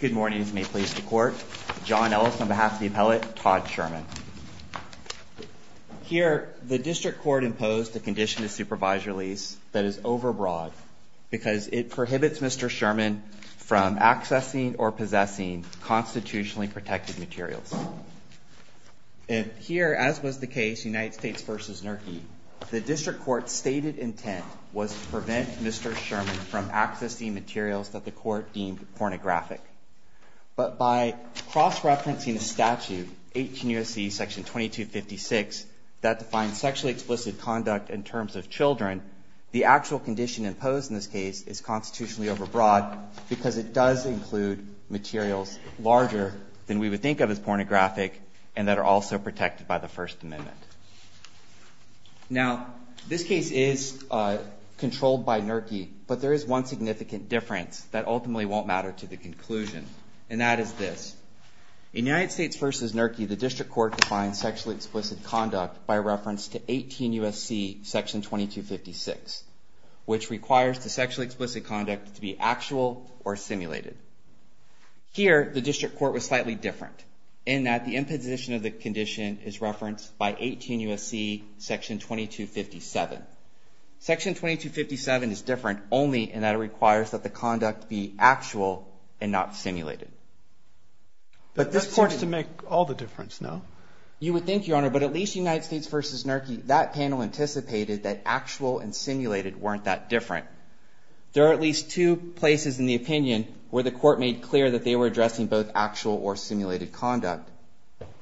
Good morning. John Ellis on behalf of the appellate, Todd Sherman. Here, the district court imposed a condition to supervise your lease that is overbroad because it prohibits Mr. Sherman from accessing or possessing constitutionally protected materials. And here, as was the case, United States v. Nurkey, the district court's stated intent was to prevent Mr. Sherman from accessing materials that the court deemed pornographic. But by cross-referencing a statute, 18 U.S.C. section 2256, that defines sexually explicit conduct in terms of children, the actual condition imposed in this case is constitutionally overbroad because it does include materials larger than we would think of as pornographic and that are also protected by the First Amendment. Now, this case is controlled by Nurkey, but there is one significant difference that ultimately won't matter to the conclusion, and that is this. In United States v. Nurkey, the district court defines sexually explicit conduct by reference to 18 U.S.C. section 2256, which requires the sexually explicit conduct to be actual or simulated. Here, the district court was slightly different in that the imposition of the condition is referenced by 18 U.S.C. section 2257. Section 2257 is different only in that it requires that the conduct be actual and not simulated. But this court is to make all the difference, no? You would think, Your Honor, but at least United States v. Nurkey, that panel anticipated that actual and simulated weren't that different. There are at least two places in the opinion where the court made clear that they were addressing both actual or simulated conduct.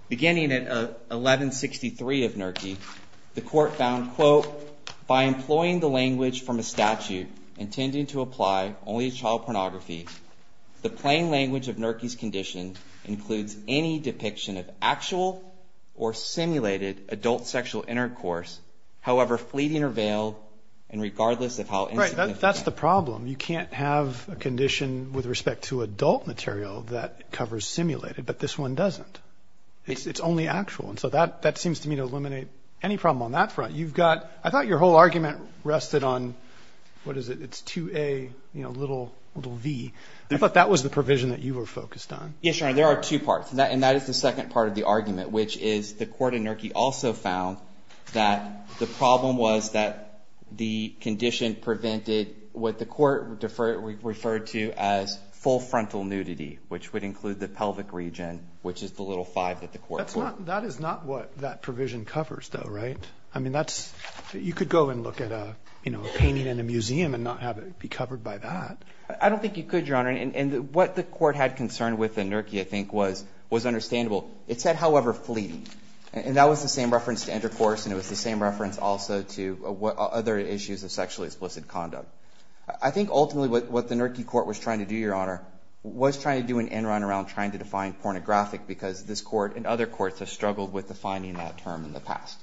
Beginning at 1163 of Nurkey, the court found, quote, by employing the language from a statute intending to apply only to child pornography, the plain language of Nurkey's condition includes any depiction of actual or simulated adult sexual intercourse, however fleeting or veiled, and regardless of how insignificant. But that's the problem. You can't have a condition with respect to adult material that covers simulated, but this one doesn't. It's only actual. And so that seems to me to eliminate any problem on that front. You've got – I thought your whole argument rested on – what is it? It's 2A, you know, little v. I thought that was the provision that you were focused on. Yes, Your Honor. There are two parts, and that is the second part of the argument, which is the court in Nurkey also found that the problem was that the condition prevented what the court referred to as full frontal nudity, which would include the pelvic region, which is the little v that the court put. That is not what that provision covers, though, right? I mean, that's – you could go and look at a, you know, a painting in a museum and not have it be covered by that. I don't think you could, Your Honor. And what the court had concerned with in Nurkey, I think, was understandable. It said, however, fleeting. And that was the same reference to intercourse, and it was the same reference also to other issues of sexually explicit conduct. I think ultimately what the Nurkey court was trying to do, Your Honor, was trying to do an end run around trying to define pornographic because this court and other courts have struggled with defining that term in the past.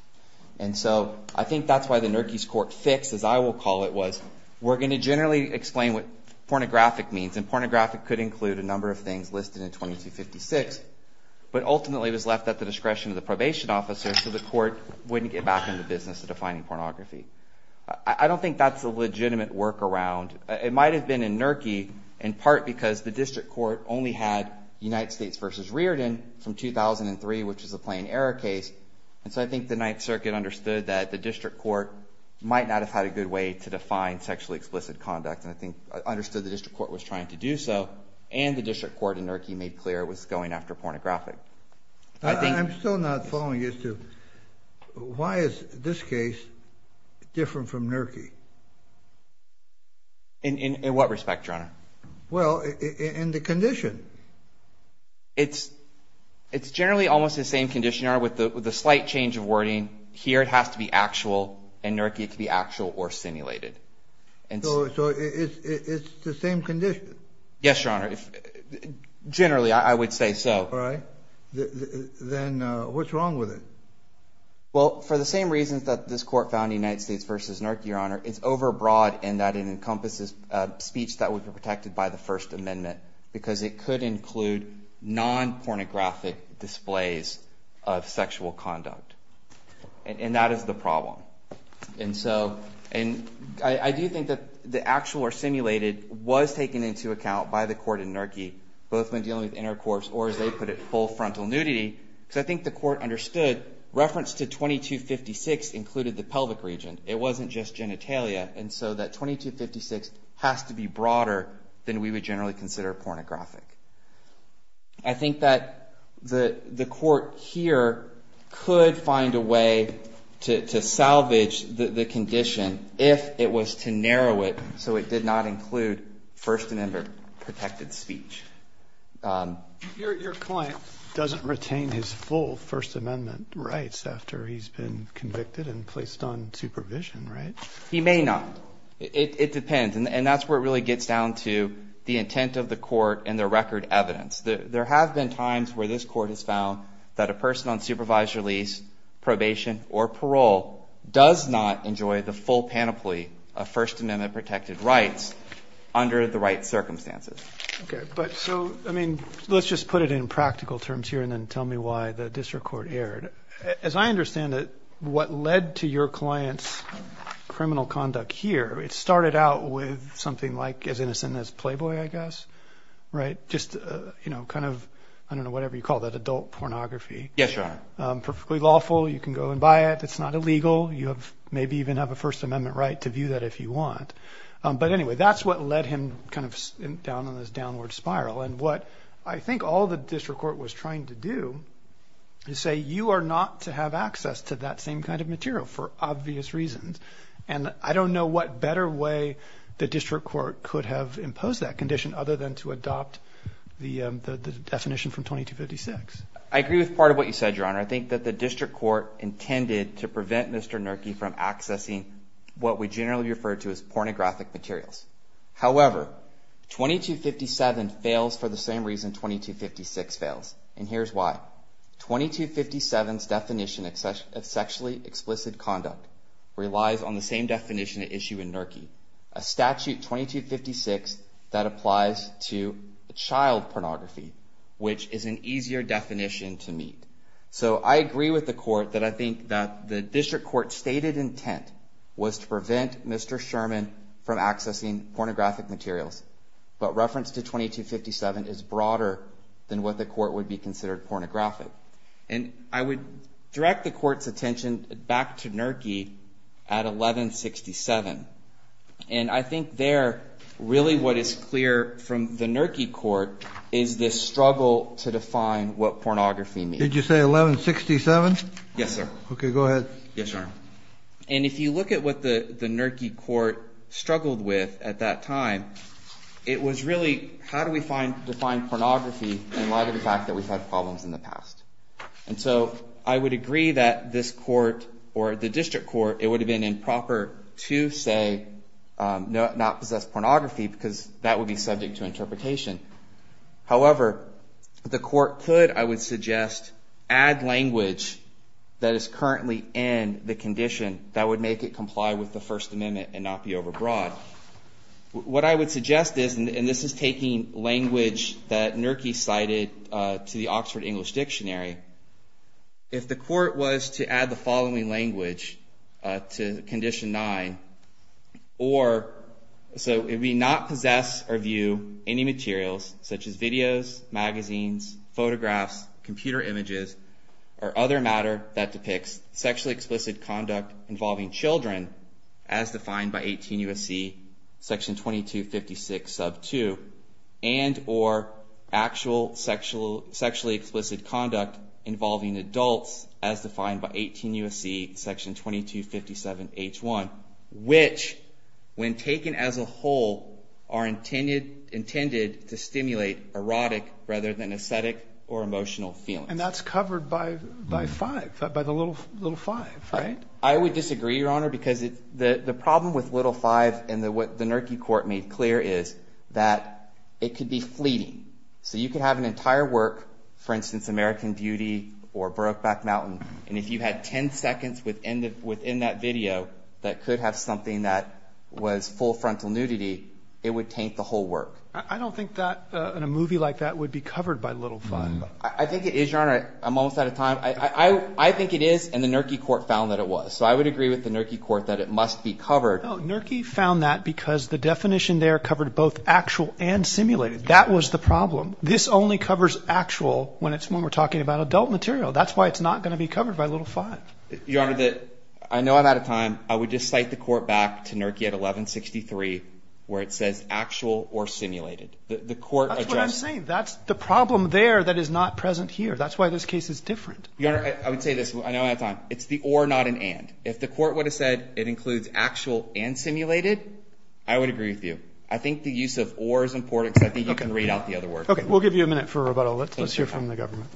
And so I think that's why the Nurkey's court fix, as I will call it, was we're going to generally explain what pornographic means, and pornographic could include a number of things listed in 2256, but ultimately was left at the discretion of the probation officer so the court wouldn't get back in the business of defining pornography. I don't think that's a legitimate workaround. It might have been in Nurkey in part because the district court only had United States v. Riordan from 2003, which is a plain error case. And so I think the Ninth Circuit understood that the district court might not have had a good way to define sexually explicit conduct, and I think understood the district court was trying to do so, and the district court in Nurkey made clear it was going after pornographic. I'm still not following you through. Why is this case different from Nurkey? In what respect, Your Honor? Well, in the condition. It's generally almost the same condition, Your Honor, with the slight change of wording. Here it has to be actual, and Nurkey could be actual or simulated. So it's the same condition? Yes, Your Honor. Generally, I would say so. All right. Then what's wrong with it? Well, for the same reasons that this court found in United States v. Nurkey, Your Honor, it's overbroad in that it encompasses speech that would be protected by the First Amendment because it could include non-pornographic displays of sexual conduct. And that is the problem. And so I do think that the actual or simulated was taken into account by the court in Nurkey, both when dealing with intercourse or, as they put it, full frontal nudity, because I think the court understood reference to 2256 included the pelvic region. It wasn't just genitalia, and so that 2256 has to be broader than we would generally consider pornographic. I think that the court here could find a way to salvage the condition if it was to narrow it so it did not include First Amendment protected speech. Your client doesn't retain his full First Amendment rights after he's been convicted and placed on supervision, right? He may not. It depends. And that's where it really gets down to the intent of the court and the record evidence. There have been times where this court has found that a person on supervised release, probation or parole does not enjoy the full panoply of First Amendment protected rights under the right circumstances. Okay. But so, I mean, let's just put it in practical terms here and then tell me why the district court erred. As I understand it, what led to your client's criminal conduct here, it started out with something like as innocent as Playboy, I guess, right? Just, you know, kind of, I don't know, whatever you call that, adult pornography. Yes, Your Honor. Perfectly lawful. You can go and buy it. It's not illegal. You have maybe even have a First Amendment right to view that if you want. But anyway, that's what led him kind of down on this downward spiral. And what I think all the district court was trying to do is say, you are not to have access to that same kind of material for obvious reasons. And I don't know what better way the district court could have imposed that condition other than to adopt the definition from 2256. I agree with part of what you said, Your Honor. I think that the district court intended to prevent Mr. Nurki from accessing what we generally refer to as pornographic materials. However, 2257 fails for the same reason 2256 fails. And here's why. 2257's definition of sexually explicit conduct relies on the same definition at issue in Nurki, a statute 2256 that applies to child pornography, which is an easier definition to meet. So I agree with the court that I think that the district court stated intent was to prevent Mr. Sherman from accessing pornographic materials. But reference to 2257 is broader than what the court would be considered pornographic. And I would direct the court's attention back to Nurki at 1167. And I think there really what is clear from the Nurki court is this struggle to define what pornography means. Did you say 1167? Yes, sir. Okay, go ahead. Yes, Your Honor. And if you look at what the Nurki court struggled with at that time, it was really how do we define pornography in light of the fact that we've had problems in the past. And so I would agree that this court or the district court, it would have been improper to say not possess pornography because that would be subject to interpretation. However, the court could, I would suggest, add language that is currently in the condition that would make it comply with the First Amendment and not be overbroad. What I would suggest is, and this is taking language that Nurki cited to the Oxford English Dictionary. If the court was to add the following language to Condition 9, or so if we not possess or view any materials such as videos, magazines, photographs, computer images, or other matter that depicts sexually explicit conduct involving children, as defined by 18 U.S.C. section 2256 sub 2, and or actual sexually explicit conduct involving adults, as defined by 18 U.S.C. section 2257 H1, which, when taken as a whole, are intended to stimulate erotic rather than aesthetic or emotional feelings. And that's covered by 5, by the little 5, right? I would disagree, Your Honor, because the problem with little 5 and what the Nurki court made clear is that it could be fleeting. So you could have an entire work, for instance, American Beauty or Brokeback Mountain, and if you had 10 seconds within that video that could have something that was full frontal nudity, it would taint the whole work. I don't think that in a movie like that would be covered by little 5. I think it is, Your Honor. I'm almost out of time. I think it is, and the Nurki court found that it was. So I would agree with the Nurki court that it must be covered. No, Nurki found that because the definition there covered both actual and simulated. That was the problem. This only covers actual when it's when we're talking about adult material. That's why it's not going to be covered by little 5. Your Honor, I know I'm out of time. I would just cite the court back to Nurki at 1163 where it says actual or simulated. The court addressed it. That's what I'm saying. That's the problem there that is not present here. That's why this case is different. Your Honor, I would say this. I know I'm out of time. It's the or, not an and. If the court would have said it includes actual and simulated, I would agree with you. I think the use of or is important because I think you can read out the other words. Okay. We'll give you a minute for rebuttal. Let's hear from the government.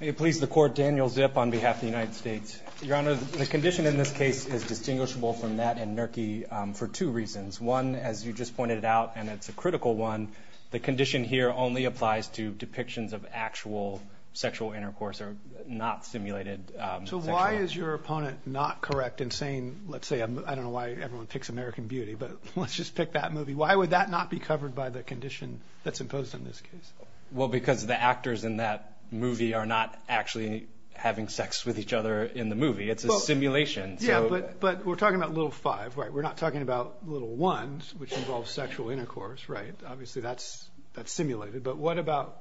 May it please the Court, Daniel Zip on behalf of the United States. Your Honor, the condition in this case is distinguishable from that in Nurki for two reasons. One, as you just pointed out, and it's a critical one. The condition here only applies to depictions of actual sexual intercourse or not simulated. So why is your opponent not correct in saying, let's say, I don't know why everyone picks American Beauty, but let's just pick that movie. Why would that not be covered by the condition that's imposed on this case? Well, because the actors in that movie are not actually having sex with each other in the movie. It's a simulation. Yeah, but we're talking about Little Five, right? We're not talking about Little Ones, which involves sexual intercourse, right? Obviously that's simulated, but what about,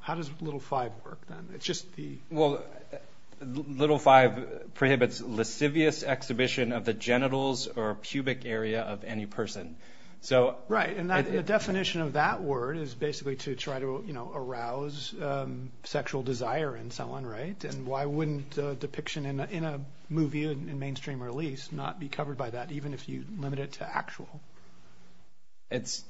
how does Little Five work then? It's just the. Well, Little Five prohibits lascivious exhibition of the genitals or pubic area of any person. Right, and the definition of that word is basically to try to arouse sexual desire in someone, right? And why wouldn't a depiction in a movie in mainstream release not be covered by that, even if you limit it to actual? It's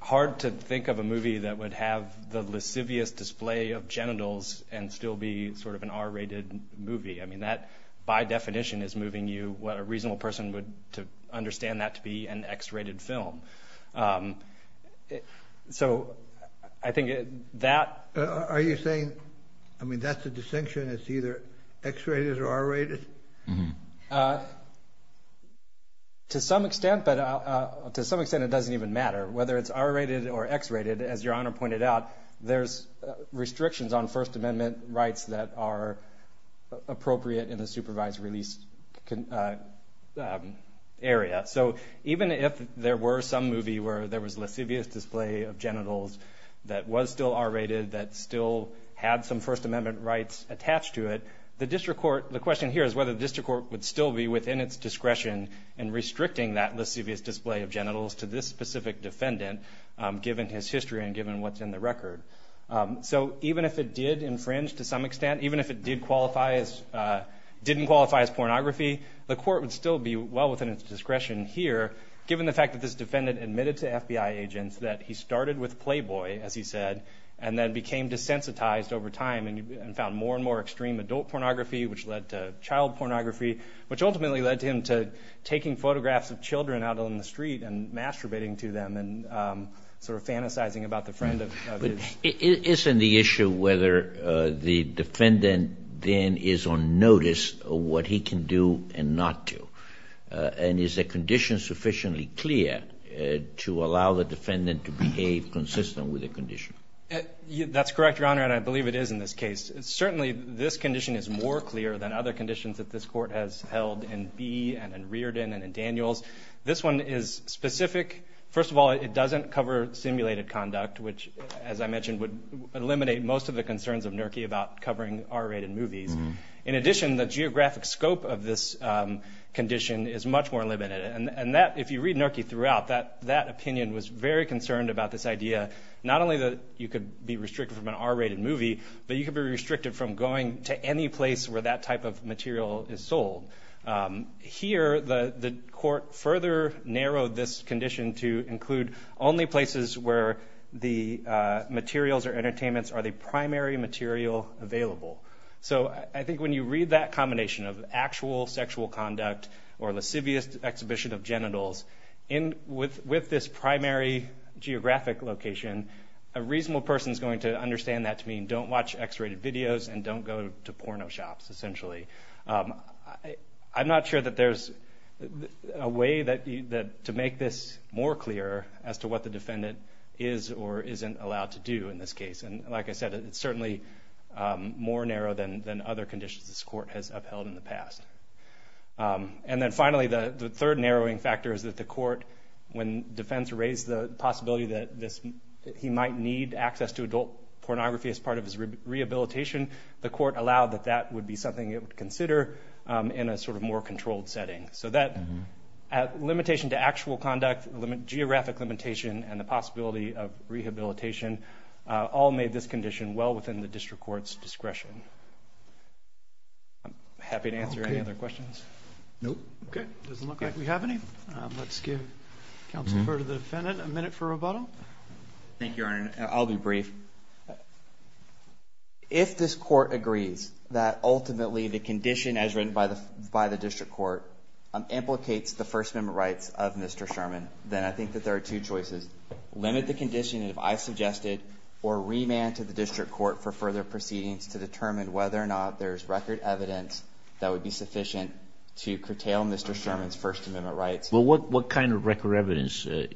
hard to think of a movie that would have the lascivious display of genitals and still be sort of an R-rated movie. I mean, that by definition is moving you, what a reasonable person would, to understand that to be an X-rated film. So I think that. Are you saying, I mean, that's a distinction, it's either X-rated or R-rated? To some extent, but to some extent it doesn't even matter whether it's R-rated or X-rated. As Your Honor pointed out, there's restrictions on First Amendment rights that are appropriate in the supervised release area. So even if there were some movie where there was lascivious display of genitals that was still R-rated, that still had some First Amendment rights attached to it, the district court, the question here is whether the district court would still be within its discretion in restricting that lascivious display of genitals to this specific defendant, given his history and given what's in the record. So even if it did infringe to some extent, even if it didn't qualify as pornography, the court would still be well within its discretion here, given the fact that this defendant admitted to FBI agents that he started with Playboy, as he said, and then became desensitized over time and found more and more extreme adult pornography, which led to child pornography, which ultimately led to him taking photographs of children out on the street and masturbating to them and sort of fantasizing about the friend of his. But isn't the issue whether the defendant then is on notice of what he can do and not do? And is the condition sufficiently clear to allow the defendant to behave consistent with the condition? That's correct, Your Honor, and I believe it is in this case. Certainly, this condition is more clear than other conditions that this court has held in Bee and in Reardon and in Daniels. This one is specific. First of all, it doesn't cover simulated conduct, which, as I mentioned, would eliminate most of the concerns of NERCY about covering R-rated movies. In addition, the geographic scope of this condition is much more limited, and that, if you read NERCY throughout, that opinion was very concerned about this idea not only that you could be restricted from an R-rated movie, but you could be restricted from going to any place where that type of material is sold. Here, the court further narrowed this condition to include only places where the materials or entertainments are the primary material available. So I think when you read that combination of actual sexual conduct or lascivious exhibition of genitals, with this primary geographic location, a reasonable person is going to understand that to mean don't watch X-rated videos and don't go to porno shops, essentially. I'm not sure that there's a way to make this more clear as to what the defendant is or isn't allowed to do in this case. Like I said, it's certainly more narrow than other conditions this court has upheld in the past. And then finally, the third narrowing factor is that the court, when defense raised the possibility that he might need access to adult pornography as part of his rehabilitation, the court allowed that that would be something it would consider in a sort of more controlled setting. So that limitation to actual conduct, geographic limitation, and the possibility of rehabilitation all made this condition well within the district court's discretion. I'm happy to answer any other questions. No. Okay. It doesn't look like we have any. Let's give counsel Kerr to the defendant, a minute for rebuttal. Thank you, Your Honor. I'll be brief. If this court agrees that ultimately the condition as written by the district court implicates the First Amendment rights of Mr. Sherman, then I think that there are two choices. Limit the condition, if I suggested, or remand to the district court for further proceedings to determine whether or not there's record evidence that would be sufficient to curtail Mr. Sherman's First Amendment rights. Well, what kind of record evidence are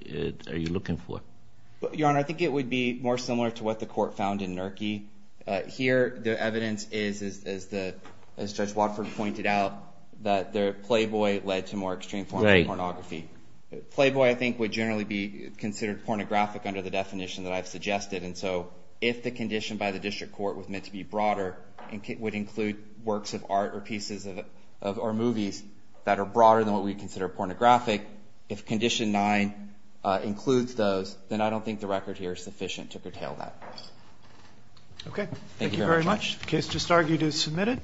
you looking for? Your Honor, I think it would be more similar to what the court found in NERCI. Here the evidence is, as Judge Watford pointed out, that the playboy led to more extreme forms of pornography. Playboy, I think, would generally be considered pornographic under the definition that I've suggested. And so if the condition by the district court was meant to be broader and would include works of art or pieces of movies that are broader than what we consider pornographic, if Condition 9 includes those, then I don't think the record here is sufficient to curtail that. Okay. Thank you very much. The case just argued is submitted.